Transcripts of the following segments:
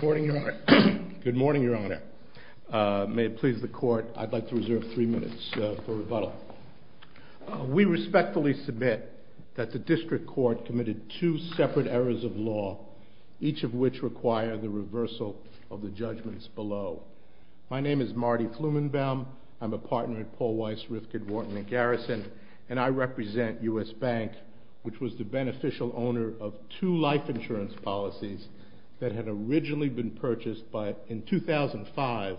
Good morning, Your Honor. May it please the Court, I'd like to reserve three minutes for rebuttal. We respectfully submit that the District Court committed two separate errors of law, each of which require the reversal of the judgments below. My name is Marty Flumenbaum, I'm a partner at Paul Weiss, Rifkind, Wharton & Garrison, and I represent U.S. Bank, which was the beneficial owner of two life insurance policies that had originally been purchased in 2005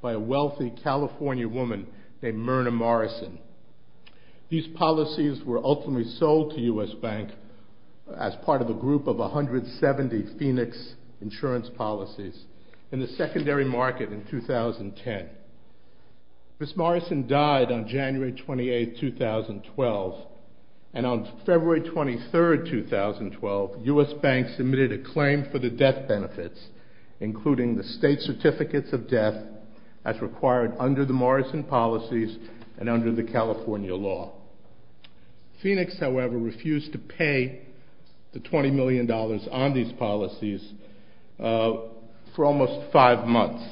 by a wealthy California woman named Myrna Morrison. These policies were ultimately sold to U.S. Bank as part of a group of 170 Phoenix insurance policies in the secondary market in 2010. Ms. Morrison died on January 28, 2012, and on February 23, 2012, U.S. Bank submitted a claim for the death benefits, including the state certificates of death as required under the Morrison policies and under the California law. Phoenix, however, refused to pay the $20 million on these policies for almost five months,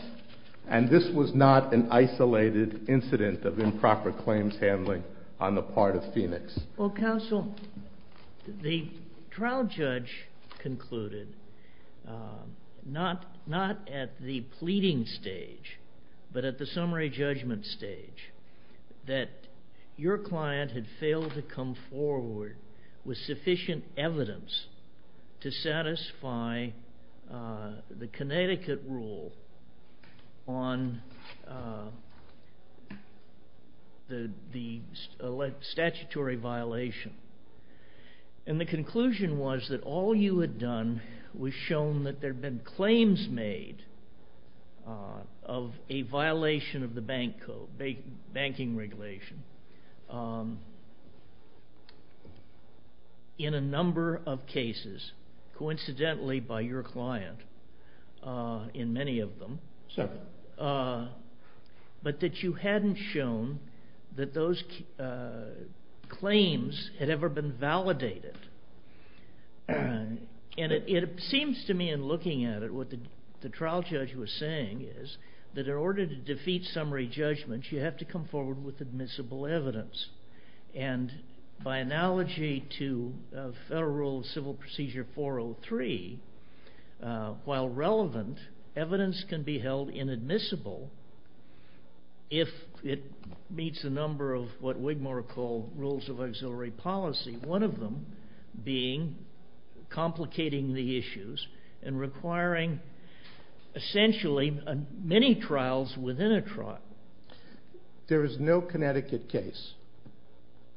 and this was not an isolated incident of improper claims handling on the part of Phoenix. Counsel, the trial judge concluded, not at the pleading stage, but at the summary judgment stage, that your client had failed to come forward with sufficient evidence to satisfy the Connecticut rule on the statutory violation, and the conclusion was that all you had done was shown that there had been claims made of a violation of the banking regulation in a number of cases, coincidentally by your client in many of them, but that you hadn't shown that those claims had ever been validated. And it seems to me, in looking at it, what the trial judge was saying is that in order to defeat summary judgments, you have to come forward with admissible evidence, and by analogy to federal civil procedure 403, while relevant, evidence can be held inadmissible if it meets a number of what Wigmore called rules of auxiliary policy, one of them being complicating the issues and requiring essentially many trials within a trial. There is no Connecticut case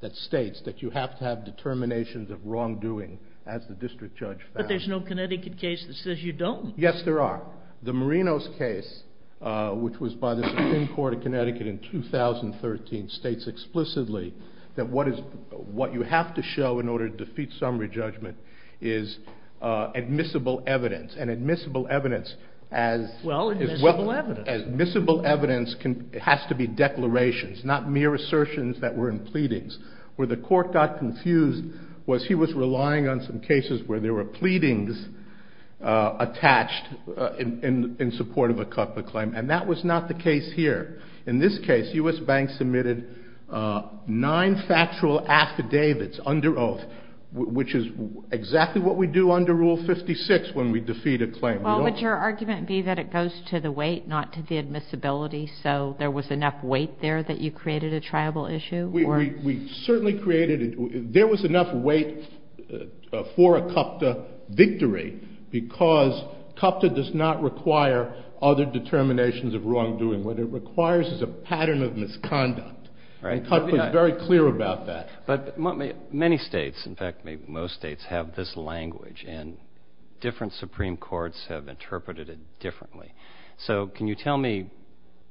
that states that you have to have determinations of wrongdoing, as the district judge found. But there's no Connecticut case that says you don't. Yes, there are. The Marinos case, which was by the Supreme Court of Connecticut in 2013, states explicitly that what you have to show in order to defeat summary judgment is admissible evidence, and admissible evidence as... Well, admissible evidence. Admissible evidence has to be declarations, not mere assertions that were in pleadings. Where the court got confused was he was relying on some cases where there were pleadings attached in support of a Cutler claim, and that was not the case here. In this case, U.S. banks submitted nine factual affidavits under oath, which is exactly what we do under Rule 56 when we defeat a claim. Well, would your argument be that it goes to the weight, not to the admissibility, so there was enough weight there that you created a triable issue? We certainly created it. There was enough weight for a CUPTA victory because CUPTA does not require other determinations of wrongdoing. What it requires is a pattern of misconduct, and CUPTA is very clear about that. But many states, in fact most states, have this language, and different Supreme Courts have interpreted it differently. So can you tell me,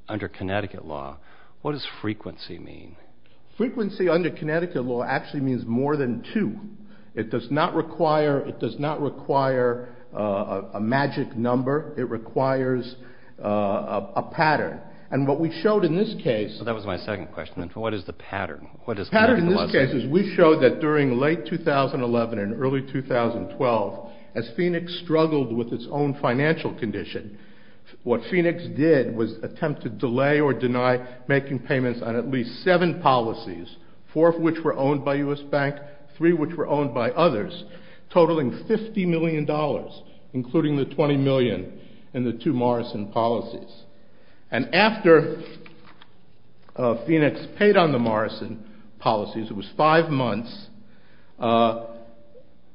under Connecticut law, what does frequency mean? Frequency under Connecticut law actually means more than two. It does not require a magic number. It requires a pattern. And what we showed in this case... That was my second question. What is the pattern? The pattern in this case is we showed that during late 2011 and early 2012, as Phoenix struggled with its own financial condition, what Phoenix did was attempt to delay or deny making payments on at least seven policies, four of which were owned by U.S. banks, three of which were owned by others, totaling $50 million, including the $20 million in the two Morrison policies. And after Phoenix paid on the Morrison policies, it was five months,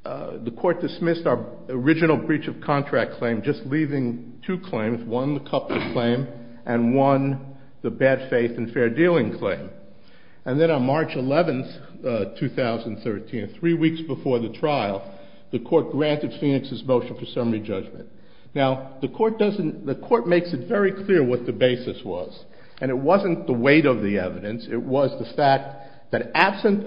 the court dismissed our original breach of contract claim, just leaving two claims, one the CUPTA claim and one the bad faith and fair dealing claim. And then on March 11, 2013, three weeks before the trial, the court granted Phoenix's motion for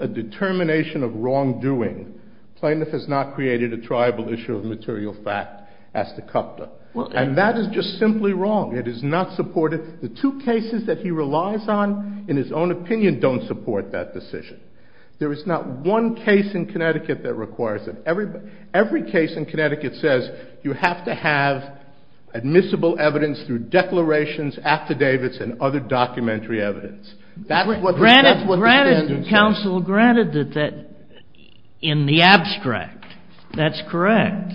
a determination of wrongdoing, plaintiff has not created a triable issue of material fact as to CUPTA. And that is just simply wrong. It is not supported. The two cases that he relies on, in his own opinion, don't support that decision. There is not one case in Connecticut that requires it. Every case in Connecticut says you have to have admissible evidence through declarations, affidavits and other documentary evidence. Granted, counsel, granted that in the abstract, that's correct.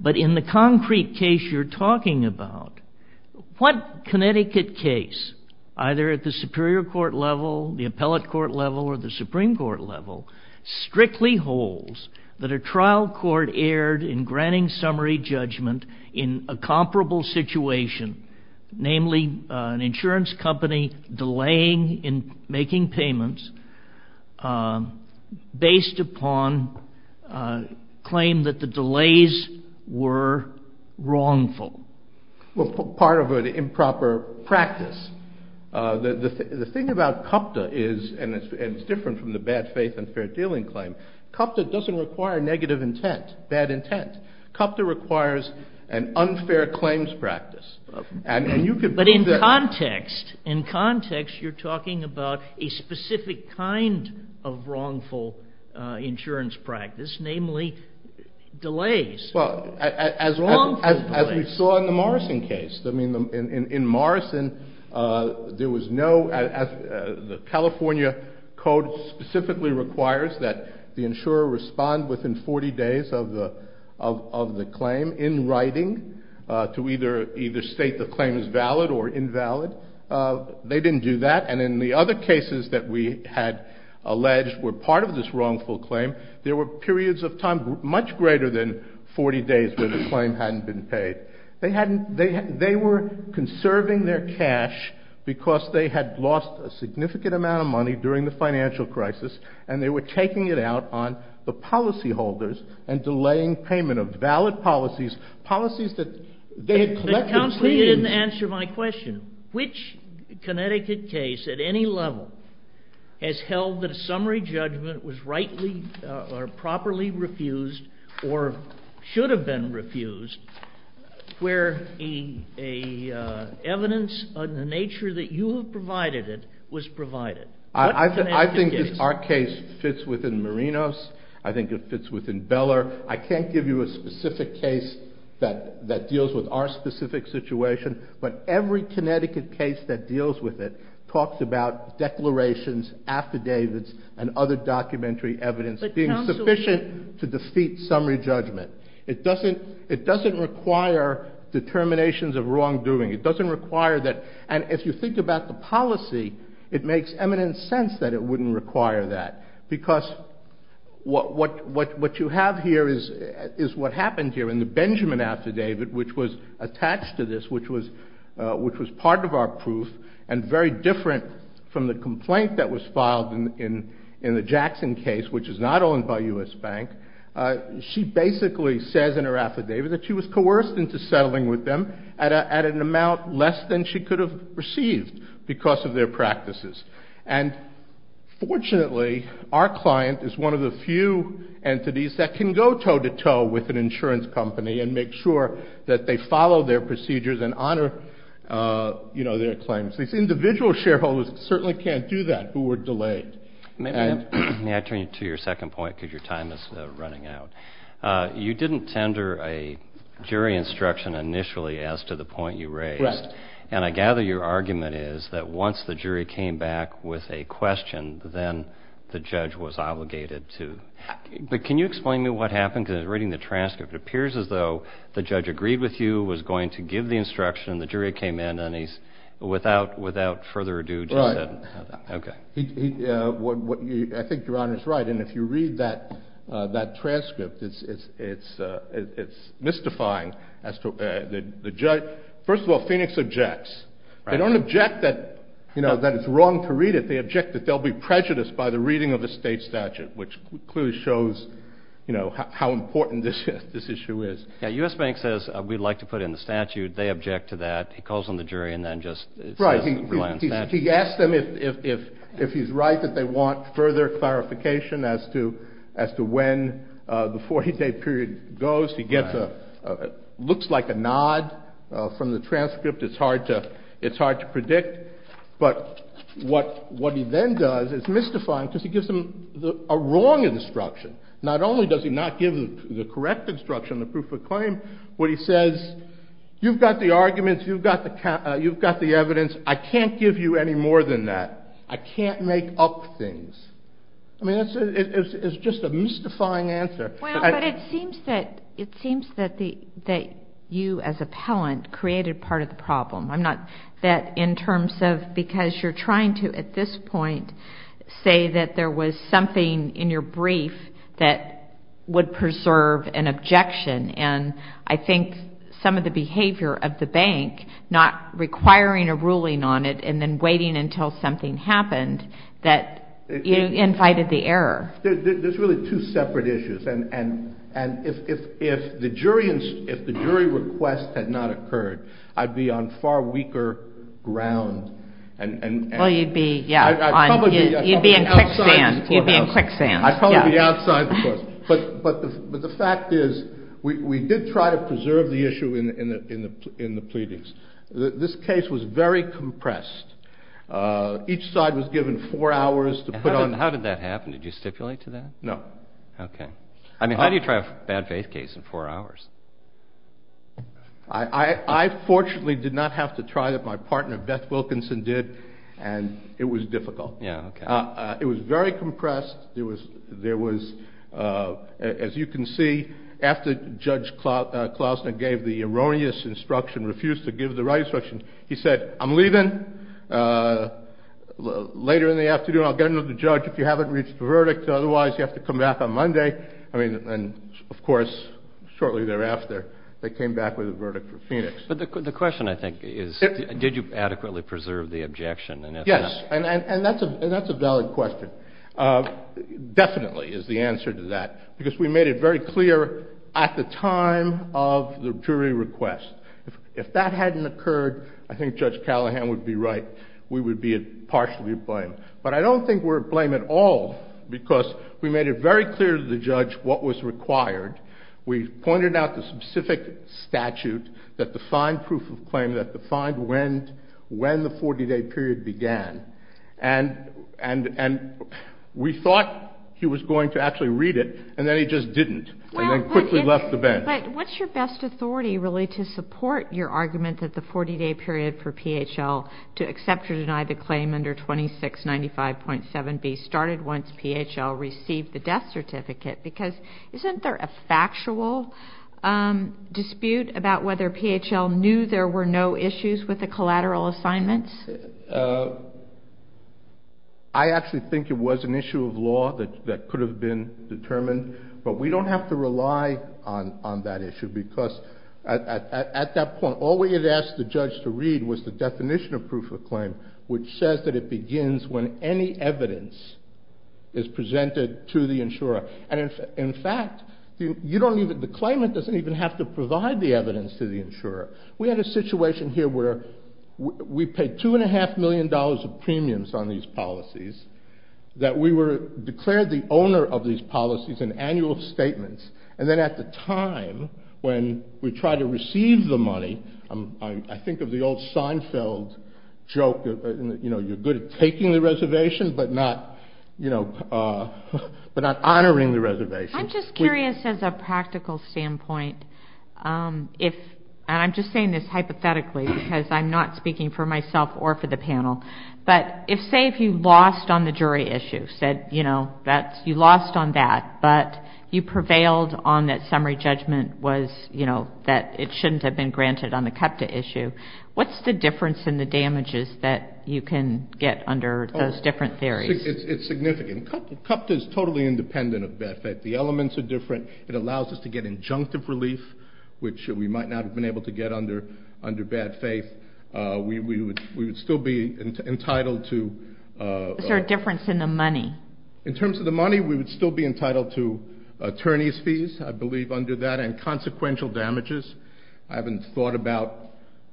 But in the concrete case you're talking about, what Connecticut case, either at the superior court level, the appellate court level or the Supreme Court level, strictly holds that a trial court erred in granting summary judgment in a making payments based upon claim that the delays were wrongful. Well, part of an improper practice. The thing about CUPTA is, and it's different from the bad faith and fair dealing claim, CUPTA doesn't require negative intent, bad intent. CUPTA requires an unfair claims practice. But in context, you're talking about a specific kind of wrongful insurance practice, namely delays. Well, as we saw in the Morrison case. In Morrison, there was no, the California code specifically requires that the insurer respond within 40 days of the claim in writing to either state the claim is valid or invalid. They didn't do that. And in the other cases that we had alleged were part of this 40 days where the claim hadn't been paid. They hadn't, they were conserving their cash because they had lost a significant amount of money during the financial crisis, and they were taking it out on the policyholders and delaying payment of valid policies, policies that they had collected claims. But you didn't answer my question. Which Connecticut case at any level has held that a summary judgment was rightly or properly refused or should have been refused where a evidence of the nature that you have provided it was provided? I think our case fits within Marinos. I think it fits within Beller. I can't give you a specific case that deals with our specific situation, but every Connecticut case that deals with it talks about declarations, affidavits, and other documentary evidence being sufficient to defeat summary judgment. It doesn't require determinations of wrongdoing. It doesn't require that, and if you think about the policy, it makes eminent sense that it wouldn't require that because what you have here is what happened here in the Benjamin affidavit, which was attached to this, which was part of our proof and very different from the complaint that was filed in the Jackson case, which is not owned by U.S. Bank. She basically says in her affidavit that she was coerced into settling with them at an amount less than she could have received because of their practices. And fortunately, our client is one of the few entities that can go toe-to-toe with an insurance company and make sure that they follow their procedures and honor their claims. These individual shareholders certainly can't do that who were delayed. May I turn you to your second point because your time is running out? You didn't tender a jury instruction initially as to the point you raised. Right. And I gather your argument is that once the jury came back with a question, then the judge was obligated to. But can you explain to me what happened? Because reading the transcript, it appears as though the judge agreed with you, was going to give the instruction, the jury came in, and he's without further ado just said, okay. Right. I think your Honor is right. And if you read that transcript, it's mystifying. First of all, Phoenix objects. They don't object that, you know, that it's wrong to read it. They object that they'll be prejudiced by the reading of a state statute, which clearly shows, you know, how important this issue is. Yeah. U.S. Bank says we'd like to put in the statute. They object to that. He calls on the jury and then just. Right. He asks them if he's right that they want further clarification as to when the 40-day period goes. He gets a looks like a nod from the transcript. It's hard to it's hard to predict. But what what he then does is mystifying because he gives them a wrong instruction. Not only does he not give the correct instruction, the proof of claim where he says, you've got the arguments, you've got the you've got the evidence. I can't give you any more than that. I can't make up things. I mean, it's just a mystifying answer. But it seems that it seems that the that you as appellant created part of the problem. I'm not that in terms of because you're trying to at this point say that there was something in your brief that would preserve an objection. And I think some of the behavior of the bank not requiring a ruling on it and then waiting until something happened that you invited the error. There's really two separate issues. And and and if if if the jury and if the jury request had not occurred, I'd be on far weaker ground. And you'd be, yeah, you'd be in quicksand, quicksand outside. But but but the fact is, we did try to preserve the issue in the in the in the pleadings. This case was very compressed. Each side was given four hours to put on. How did that happen? Did you stipulate to that? No. OK. I mean, how do you try a bad faith case in four hours? I fortunately did not have to try that. My partner, Beth Wilkinson, did. And it was difficult. Yeah. It was very compressed. There was there was, as you can see, after Judge Klausner gave the erroneous instruction, refused to give the right instruction. He said, I'm leaving later in the afternoon. I'll get another judge if you haven't reached a verdict. Otherwise you have to come back on Monday. I mean, and of course, shortly thereafter, they came back with a verdict for Phoenix. But the question, I think, is, did you adequately preserve the objection? Yes. And that's a that's a valid question. Definitely is the answer to that, because we made it very clear at the time of the jury request. If that hadn't occurred, I think Judge Callahan would be right. We would be partially blamed. But I don't think we're to blame at all because we made it very clear to the judge what was required. We pointed out the specific statute that defined proof of claim, that defined when when the 40 day period began. And and and we thought he was going to actually read it. And then he just didn't. And then quickly left the bench. But what's your best authority really to support your argument that the 40 day period for PHL to accept or deny the claim under twenty six, ninety five point seven B started once PHL received the death certificate? Because isn't there a factual dispute about whether PHL knew there were no issues with the collateral assignments? I actually think it was an issue of law that that could have been determined, but we don't have to rely on on that issue because at that point, all we had asked the judge to read was the definition of proof of claim, which says that it begins when any evidence is presented to the insurer. And in fact, you don't even the claimant doesn't even have to provide the evidence to the insurer. We had a situation here where we paid two and a half million dollars of premiums on these policies that we were declared the owner of these policies and annual statements. And then at the time when we try to receive the money, I think of the old Seinfeld joke. You know, you're good at taking the reservation, but not, you know, but not honoring the reservation. I'm just curious, as a practical standpoint, if I'm just saying this hypothetically, because I'm not speaking for myself or for the panel, but if, say, if you lost on the jury issue said, you know, that you lost on that, but you prevailed on that summary judgment was, you know, that it shouldn't have been granted on the issue. What's the difference in the damages that you can get under those different theories? It's significant. CUPTA is totally independent of bad faith. The elements are different. It allows us to get injunctive relief, which we might not have been able to get under bad faith. We would still be entitled to. Is there a difference in the money? In terms of the money, we would still be entitled to attorney's fees, I believe, under that, and consequential damages. I haven't thought about.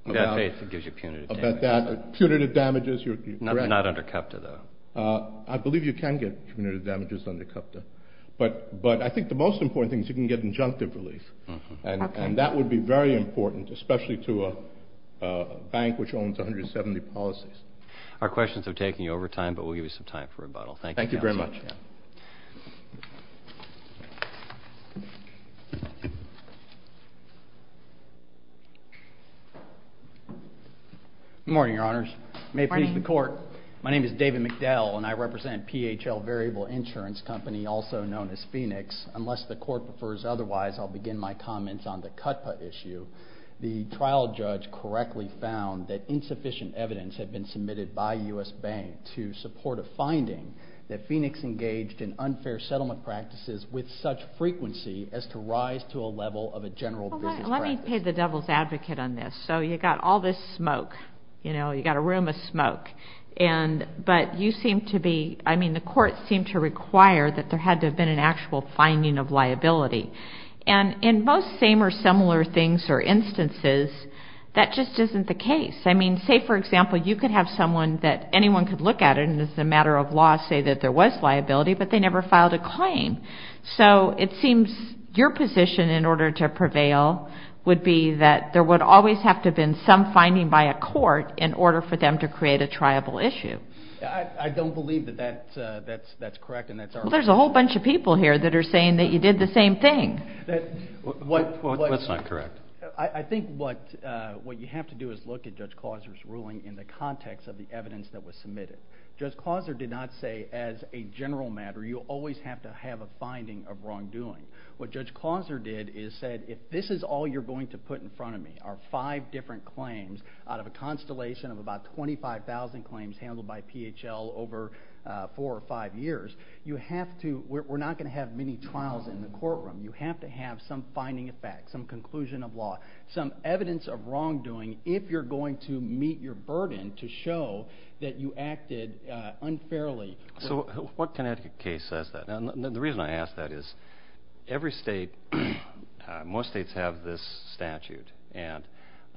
Bad faith gives you punitive damages. Punitive damages. Not under CUPTA, though. I believe you can get punitive damages under CUPTA, but I think the most important thing is you can get injunctive relief, and that would be very important, especially to a bank which owns 170 policies. Our questions are taking over time, but we'll give you some time for rebuttal. Thank you. Thank you very much. Good morning, Your Honors. Good morning. May it please the Court. My name is David McDell, and I represent PHL Variable Insurance Company, also known as Phoenix. Unless the Court prefers otherwise, I'll begin my comments on the CUPTA issue. The trial judge correctly found that insufficient evidence had been submitted by U.S. banks to support a finding that Phoenix engaged in unfair settlement practices with such frequency as to rise to a level of a general business practice. Let me be the devil's advocate on this. So you've got all this smoke. You know, you've got a room of smoke. But you seem to be, I mean, the courts seem to require that there had to have been an actual finding of liability. And in most same or similar things or instances, that just isn't the case. I mean, say, for example, you could have someone that anyone could look at it, and as a matter of law say that there was liability, but they never filed a claim. So it seems your position in order to prevail would be that there would always have to have been some finding by a court in order for them to create a triable issue. I don't believe that that's correct. Well, there's a whole bunch of people here that are saying that you did the same thing. That's not correct. I think what you have to do is look at Judge Clauser's ruling in the context of the evidence that was submitted. Judge Clauser did not say as a general matter you always have to have a finding of wrongdoing. What Judge Clauser did is said if this is all you're going to put in front of me are five different claims out of a constellation of about 25,000 claims handled by PHL over four or five years, you have to, we're not going to have many trials in the courtroom. You have to have some finding of fact, some conclusion of law, some evidence of wrongdoing if you're going to meet your burden to show that you acted unfairly. So what Connecticut case says that? The reason I ask that is every state, most states have this statute, and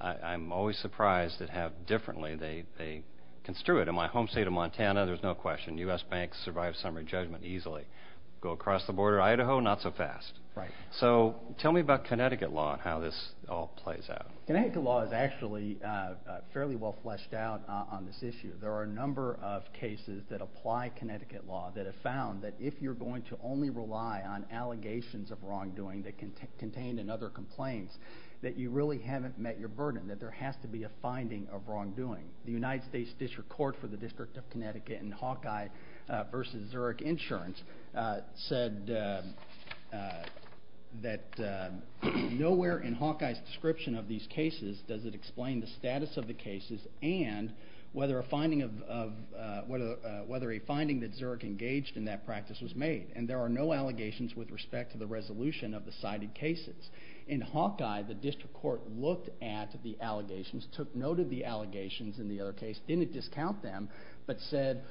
I'm always surprised at how differently they construe it. In my home state of Montana, there's no question, U.S. banks survive summary judgment easily. Go across the border to Idaho, not so fast. So tell me about Connecticut law and how this all plays out. Connecticut law is actually fairly well fleshed out on this issue. There are a number of cases that apply Connecticut law that have found that if you're going to only rely on allegations of wrongdoing that can contain another complaint, that you really haven't met your burden, that there has to be a finding of wrongdoing. The United States District Court for the District of Connecticut in Hawkeye v. Zurich Insurance said that nowhere in Hawkeye's description of these cases does it explain the status of the cases and whether a finding that Zurich engaged in that practice was made, and there are no allegations with respect to the resolution of the cited cases. In Hawkeye, the district court looked at the allegations, took note of the allegations in the other case, didn't discount them, but said,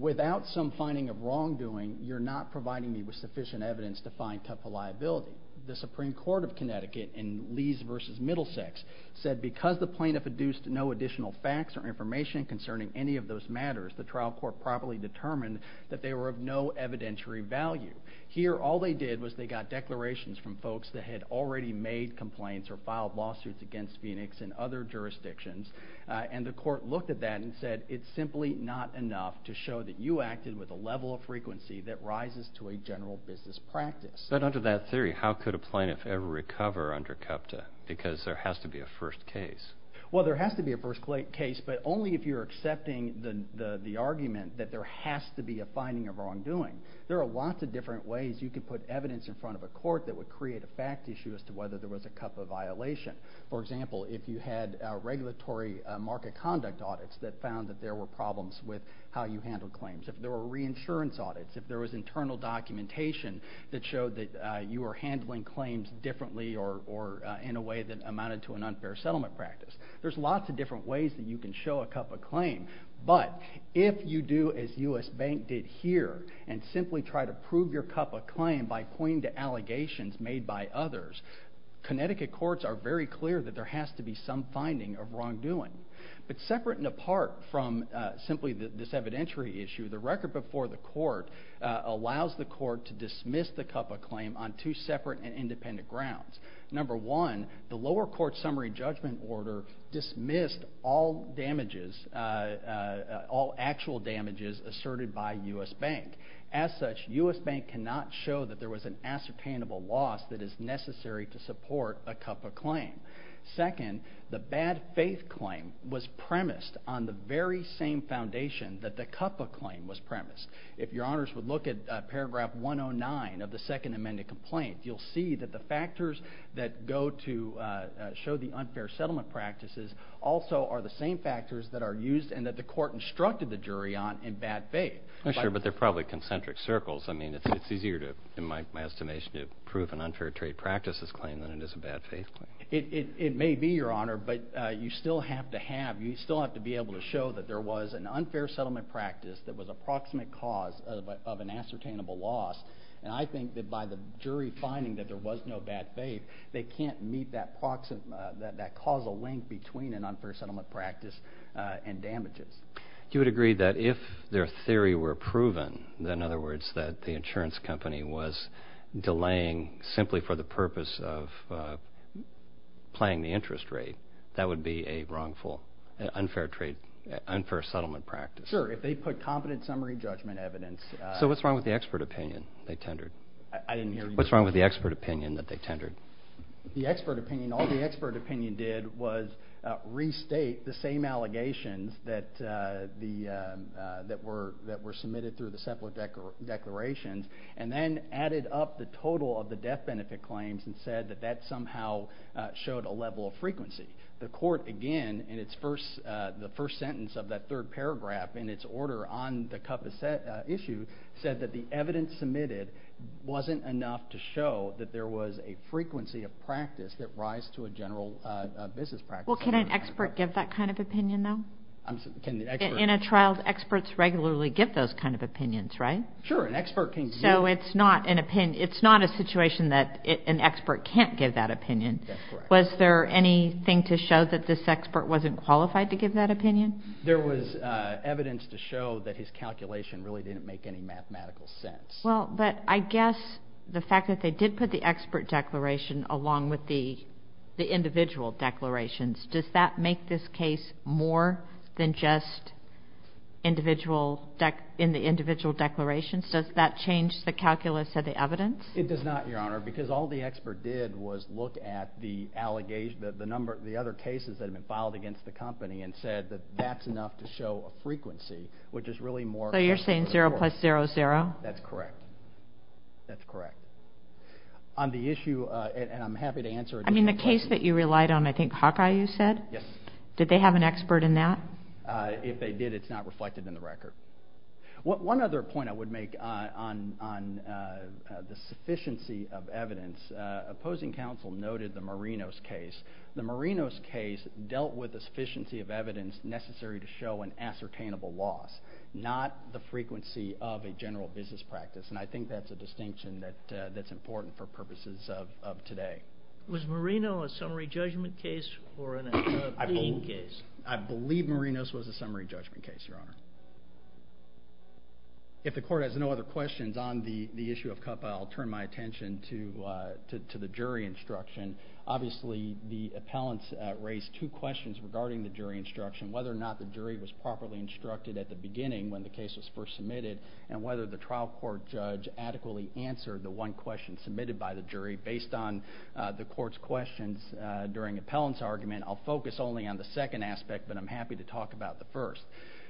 without some finding of wrongdoing, you're not providing me with sufficient evidence to find tough a liability. The Supreme Court of Connecticut in Lees v. Middlesex said because the plaintiff deduced no additional facts or information concerning any of those matters, the trial court properly determined that they were of no evidentiary value. Here, all they did was they got declarations from folks that had already made complaints or filed lawsuits against Phoenix and other jurisdictions, and the court looked at that and said it's simply not enough to show that you acted with a level of frequency that rises to a general business practice. But under that theory, how could a plaintiff ever recover under CUPTA? Because there has to be a first case. Well, there has to be a first case, but only if you're accepting the argument that there has to be a finding of wrongdoing. There are lots of different ways you could put evidence in front of a court that would create a fact issue as to whether there was a CUPTA violation. For example, if you had regulatory market conduct audits that found that there were problems with how you handled claims, if there were reinsurance audits, if there was internal documentation that showed that you were handling claims differently or in a way that amounted to an unfair settlement practice. There's lots of different ways that you can show a CUPTA claim, but if you do as U.S. Bank did here and simply try to prove your CUPTA claim by pointing to allegations made by others, Connecticut courts are very clear that there has to be some finding of wrongdoing. But separate and apart from simply this evidentiary issue, the record before the court allows the court to dismiss the CUPTA claim on two separate and independent grounds. Number one, the lower court summary judgment order dismissed all damages, all actual damages asserted by U.S. Bank. As such, U.S. Bank cannot show that there was an ascertainable loss that is necessary to support a CUPTA claim. Second, the bad faith claim was premised on the very same foundation that the CUPTA claim was premised. If your honors would look at paragraph 109 of the second amended complaint, you'll see that the factors that go to show the unfair settlement practices also are the same factors that are used and that the court instructed the jury on in bad faith. Sure, but they're probably concentric circles. I mean, it's easier in my estimation to prove an unfair trade practices claim than it is a bad faith claim. It may be, Your Honor, but you still have to have, you still have to be able to show that there was an unfair settlement practice that was a proximate cause of an ascertainable loss. And I think that by the jury finding that there was no bad faith, they can't meet that causal link between an unfair settlement practice and damages. You would agree that if their theory were proven, in other words that the insurance company was delaying simply for the purpose of playing the interest rate, that would be a wrongful unfair trade, unfair settlement practice. Sure, if they put competent summary judgment evidence. So what's wrong with the expert opinion they tendered? I didn't hear you. What's wrong with the expert opinion that they tendered? The expert opinion, all the expert opinion did was restate the same allegations that were submitted through the separate declarations and then added up the total of the death benefit claims and said that that somehow showed a level of frequency. The court, again, in the first sentence of that third paragraph in its order on the CUPA issue said that the evidence submitted wasn't enough to show that there was a frequency of practice that rise to a general business practice. Well, can an expert give that kind of opinion, though? In a trial, experts regularly give those kind of opinions, right? Sure, an expert can give. So it's not a situation that an expert can't give that opinion. Was there anything to show that this expert wasn't qualified to give that opinion? There was evidence to show that his calculation really didn't make any mathematical sense. Well, but I guess the fact that they did put the expert declaration along with the individual declarations, does that make this case more than just in the individual declarations? Does that change the calculus of the evidence? It does not, Your Honor, because all the expert did was look at the allegations, the other cases that have been filed against the company and said that that's enough to show a frequency, which is really more... So you're saying 0 plus 0 is 0? That's correct. On the issue, and I'm happy to answer... I mean, the case that you relied on, I think Hawkeye, you said? Yes. Did they have an expert in that? If they did, it's not reflected in the record. One other point I would make on the sufficiency of evidence. Opposing counsel noted the Marinos case. The Marinos case dealt with the sufficiency of evidence necessary to show an ascertainable loss, not the frequency of a general business practice. And I think that's a distinction that's important for purposes of today. Was Marinos a summary judgment case or a pleading case? I believe Marinos was a summary judgment case, Your Honor. If the Court has no other questions on the issue of CUPA, I'll turn my attention to the jury instruction. Obviously, the appellants raised two questions regarding the jury instruction, whether or not the jury was properly instructed at the beginning when the case was first submitted and whether the trial court judge adequately answered the one question submitted by the jury. Based on the Court's questions during the appellant's argument, I'll focus only on the second aspect, but I'm happy to talk about the first.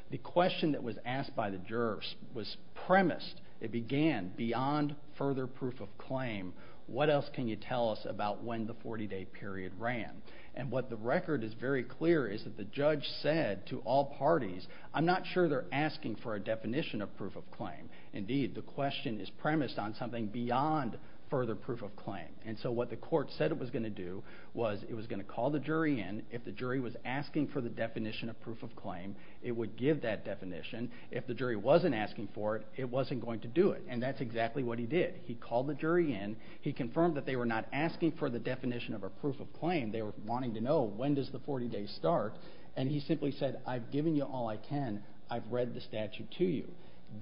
The question that was asked by the jurors was premised. It began, beyond further proof of claim, what else can you tell us about when the 40-day period ran? And what the record is very clear is that the judge said to all parties, I'm not sure they're asking for a definition of proof of claim. Indeed, the question is premised on something beyond further proof of claim. And so what the Court said it was going to do was it was going to call the jury in. If the jury was asking for the definition of proof of claim, it would give that definition. If the jury wasn't asking for it, it wasn't going to do it. And that's exactly what he did. He called the jury in. He confirmed that they were not asking for the definition of a proof of claim. They were wanting to know, when does the 40 days start? And he simply said, I've given you all I can. I've read the statute to you.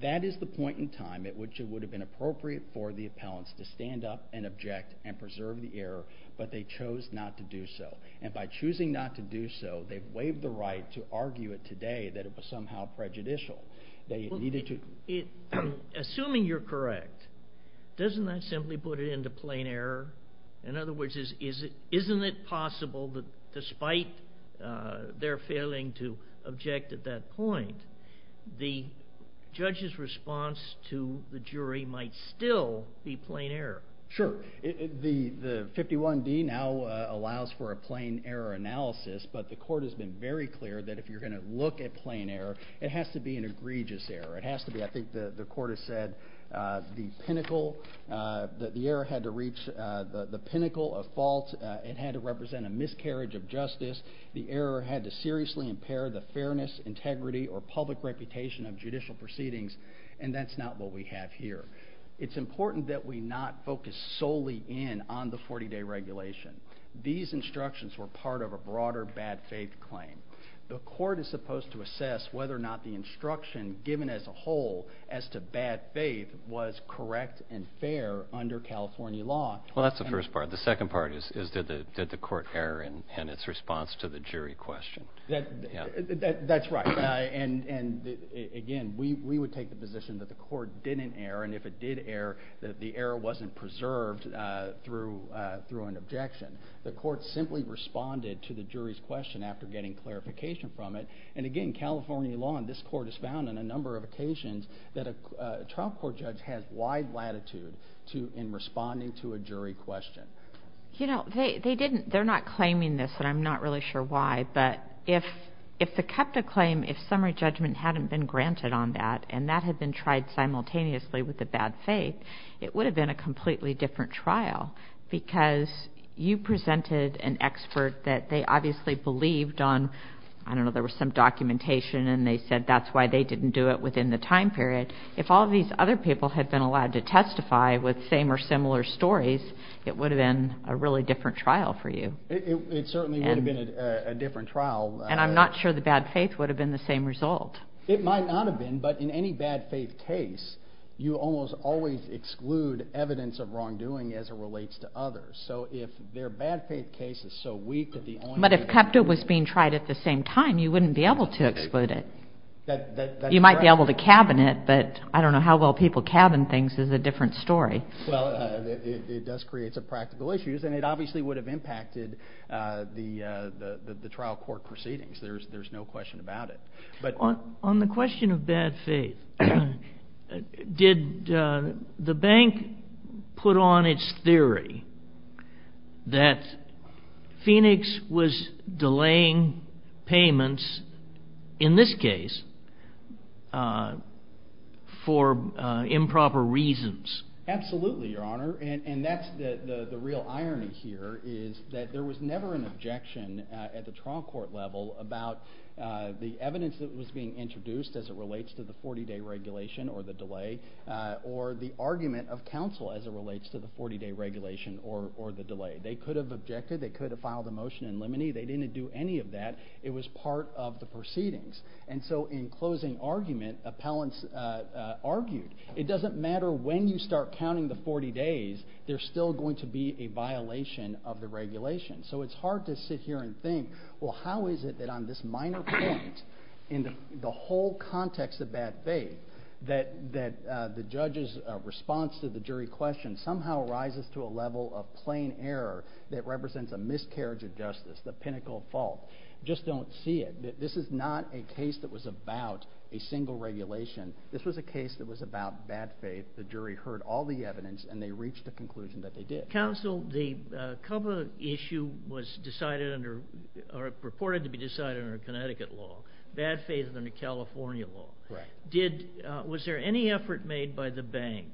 That is the point in time at which it would have been appropriate for the appellants to stand up and object and preserve the error, but they chose not to do so. And by choosing not to do so, they've waived the right to argue it today that it was somehow prejudicial. Assuming you're correct, doesn't that simply put it into plain error? In other words, isn't it possible that despite their failing to object at that point, the judge's response to the jury might still be plain error? Sure. The 51D now allows for a plain error analysis, but the Court has been very clear that if you're going to look at plain error, it has to be an egregious error. It has to be, I think the Court has said, the pinnacle that the error had to reach, the pinnacle of fault. It had to represent a miscarriage of justice. The error had to seriously impair the fairness, integrity, or public reputation of judicial proceedings, and that's not what we have here. It's important that we not focus solely in on the 40-day regulation. These instructions were part of a broader bad faith claim. The Court is supposed to assess whether or not the instruction given as a whole as to bad faith was correct and fair under California law. Well, that's the first part. The second part is did the Court err in its response to the jury question. That's right. Again, we would take the position that the Court didn't err, and if it did err, that the error wasn't preserved through an objection. The Court simply responded to the jury's question after getting clarification from it, and again, California law and this Court has found on a number of occasions that a trial court judge has wide latitude in responding to a jury question. You know, they're not claiming this, and I'm not really sure why, but if the KEPTA claim, if summary judgment hadn't been granted on that and that had been tried simultaneously with the bad faith, it would have been a completely different trial because you presented an expert that they obviously believed on. I don't know, there was some documentation, and they said that's why they didn't do it within the time period. If all these other people had been allowed to testify with same or similar stories, it would have been a really different trial for you. It certainly would have been a different trial. And I'm not sure the bad faith would have been the same result. It might not have been, but in any bad faith case, you almost always exclude evidence of wrongdoing as it relates to others. So if their bad faith case is so weak that the only thing they can do is exclude it. But if KEPTA was being tried at the same time, you wouldn't be able to exclude it. That's correct. You might be able to cabin it, but I don't know how well people cabin things is a different story. Well, it does create some practical issues, and it obviously would have impacted the trial court proceedings. There's no question about it. On the question of bad faith, did the bank put on its theory that Phoenix was delaying payments, in this case, for improper reasons? Absolutely, Your Honor. And that's the real irony here, is that there was never an objection at the trial court level about the evidence that was being introduced as it relates to the 40-day regulation or the delay, or the argument of counsel as it relates to the 40-day regulation or the delay. They could have objected. They could have filed a motion in limine. They didn't do any of that. It was part of the proceedings. And so in closing argument, appellants argued, it doesn't matter when you start counting the 40 days, there's still going to be a violation of the regulation. So it's hard to sit here and think, well how is it that on this minor point, in the whole context of bad faith, that the judge's response to the jury question somehow rises to a level of plain error that represents a miscarriage of justice, the pinnacle of fault. You just don't see it. This is not a case that was about a single regulation. This was a case that was about bad faith. The jury heard all the evidence, and they reached a conclusion that they did. Counsel, the CUBA issue was reported to be decided under Connecticut law, bad faith under California law. Was there any effort made by the bank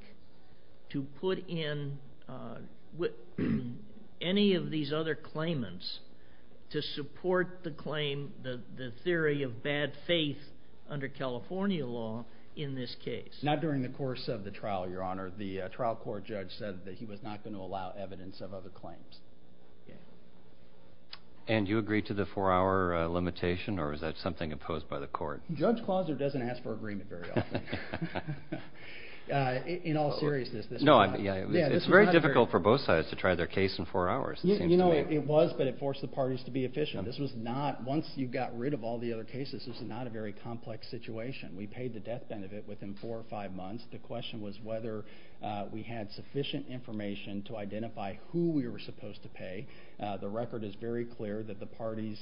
to put in any of these other claimants to support the claim, the theory of bad faith under California law in this case? Not during the course of the trial, Your Honor. The trial court judge said that he was not going to allow evidence of other claims. And you agree to the four-hour limitation, or is that something opposed by the court? Judge Clauser doesn't ask for agreement very often. In all seriousness. It's very difficult for both sides to try their case in four hours, it seems to me. It was, but it forced the parties to be efficient. This was not, once you got rid of all the other cases, this was not a very complex situation. We paid the death benefit within four or five months. The question was whether we had sufficient information to identify who we were supposed to pay. The record is very clear that the parties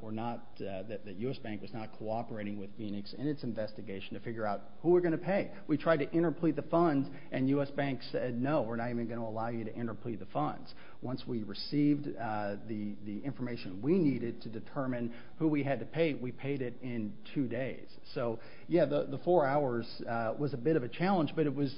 were not, that U.S. Bank was not cooperating with Phoenix in its investigation to figure out who we're going to pay. We tried to interplead the funds, and U.S. Bank said no, we're not even going to allow you to interplead the funds. Once we received the information we needed to determine who we had to pay, we paid it in two days. So, yeah, the four hours was a bit of a challenge, but it was,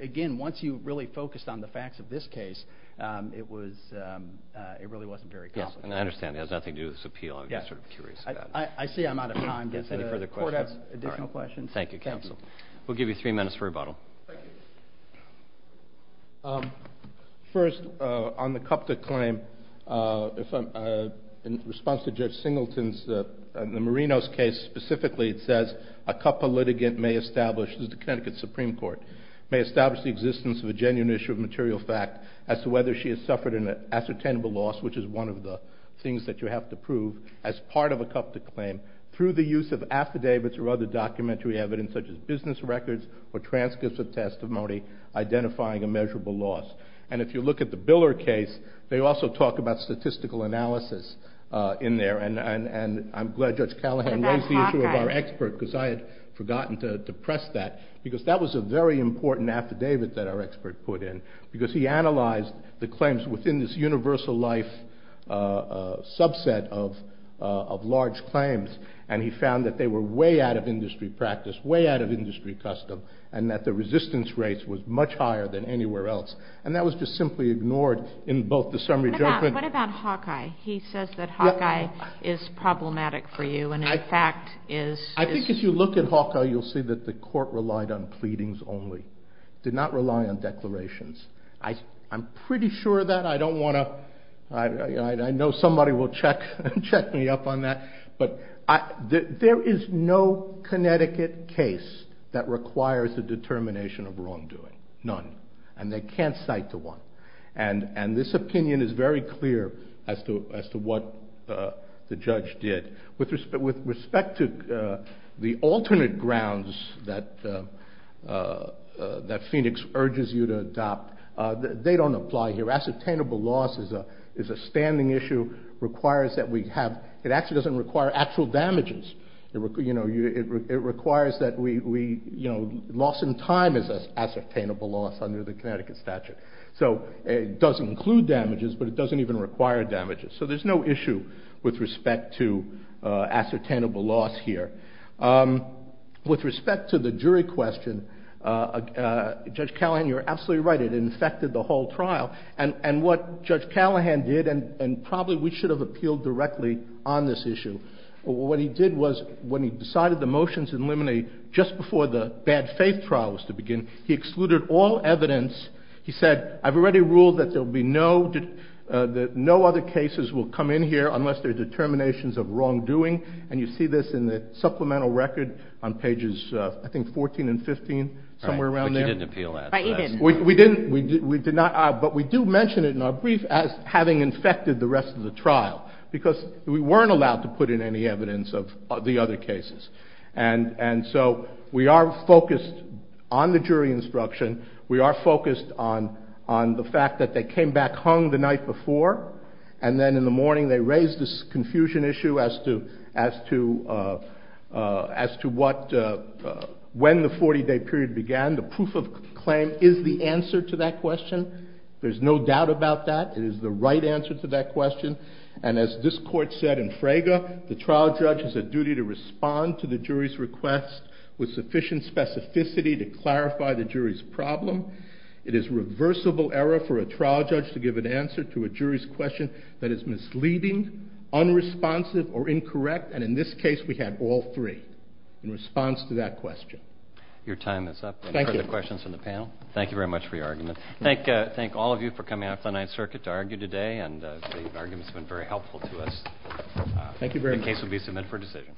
again, once you really focused on the facts of this case, it was, it really wasn't very complicated. Yes, and I understand it has nothing to do with this appeal. I'm just sort of curious about it. I see I'm out of time. Does the court have additional questions? Thank you, counsel. We'll give you three minutes for rebuttal. Thank you. First, on the Cupta claim, in response to Judge Singleton's, in the Marinos case specifically, it says, a Cupta litigant may establish, this is the Connecticut Supreme Court, may establish the existence of a genuine issue of material fact as to whether she has suffered an ascertainable loss, which is one of the things that you have to prove, as part of a Cupta claim through the use of affidavits or other documentary evidence such as business records or transcripts of testimony identifying a measurable loss. And if you look at the Biller case, they also talk about statistical analysis in there, and I'm glad Judge Callahan raised the issue of our expert because I had forgotten to press that, because that was a very important affidavit that our expert put in, because he analyzed the claims within this universal life subset of large claims, and he found that they were way out of industry practice, way out of industry custom, and that the resistance rate was much higher than anywhere else. And that was just simply ignored in both the summary judgment. What about Hawkeye? He says that Hawkeye is problematic for you and, in fact, is... I think if you look at Hawkeye, you'll see that the court relied on pleadings only, did not rely on declarations. I'm pretty sure of that. I don't want to... I know somebody will check me up on that, but there is no Connecticut case that requires a determination of wrongdoing. None. And they can't cite the one. And this opinion is very clear as to what the judge did. With respect to the alternate grounds that Phoenix urges you to adopt, they don't apply here. Ascertainable loss is a standing issue. It requires that we have... It actually doesn't require actual damages. It requires that we... Loss in time is ascertainable loss under the Connecticut statute. So it does include damages, but it doesn't even require damages. So there's no issue with respect to ascertainable loss here. With respect to the jury question, Judge Callahan, you're absolutely right. It infected the whole trial. And what Judge Callahan did, and probably we should have appealed directly on this issue. What he did was, when he decided the motion to eliminate just before the bad faith trial was to begin, he excluded all evidence. He said, I've already ruled that there will be no... that no other cases will come in here unless there are determinations of wrongdoing. And you see this in the supplemental record on pages, I think, 14 and 15. Somewhere around there. But you didn't appeal that. Right, he didn't. We didn't. But we do mention it in our brief as having infected the rest of the trial. Because we weren't allowed to put in any evidence of the other cases. And so we are focused on the jury instruction. We are focused on the fact that they came back hung the night before. And then in the morning they raised this confusion issue as to what... when the 40-day period began. The proof of claim is the answer to that question. There's no doubt about that. It is the right answer to that question. And as this Court said in Fraga, the trial judge has a duty to respond to the jury's request with sufficient specificity to clarify the jury's problem. It is reversible error for a trial judge to give an answer to a jury's question that is misleading, unresponsive, or incorrect. And in this case we had all three in response to that question. Your time is up. Thank you. Any other questions from the panel? Thank you very much for your argument. Thank all of you for coming out to the Ninth Circuit to argue today. And the argument has been very helpful to us. Thank you very much. The case will be submitted for decision.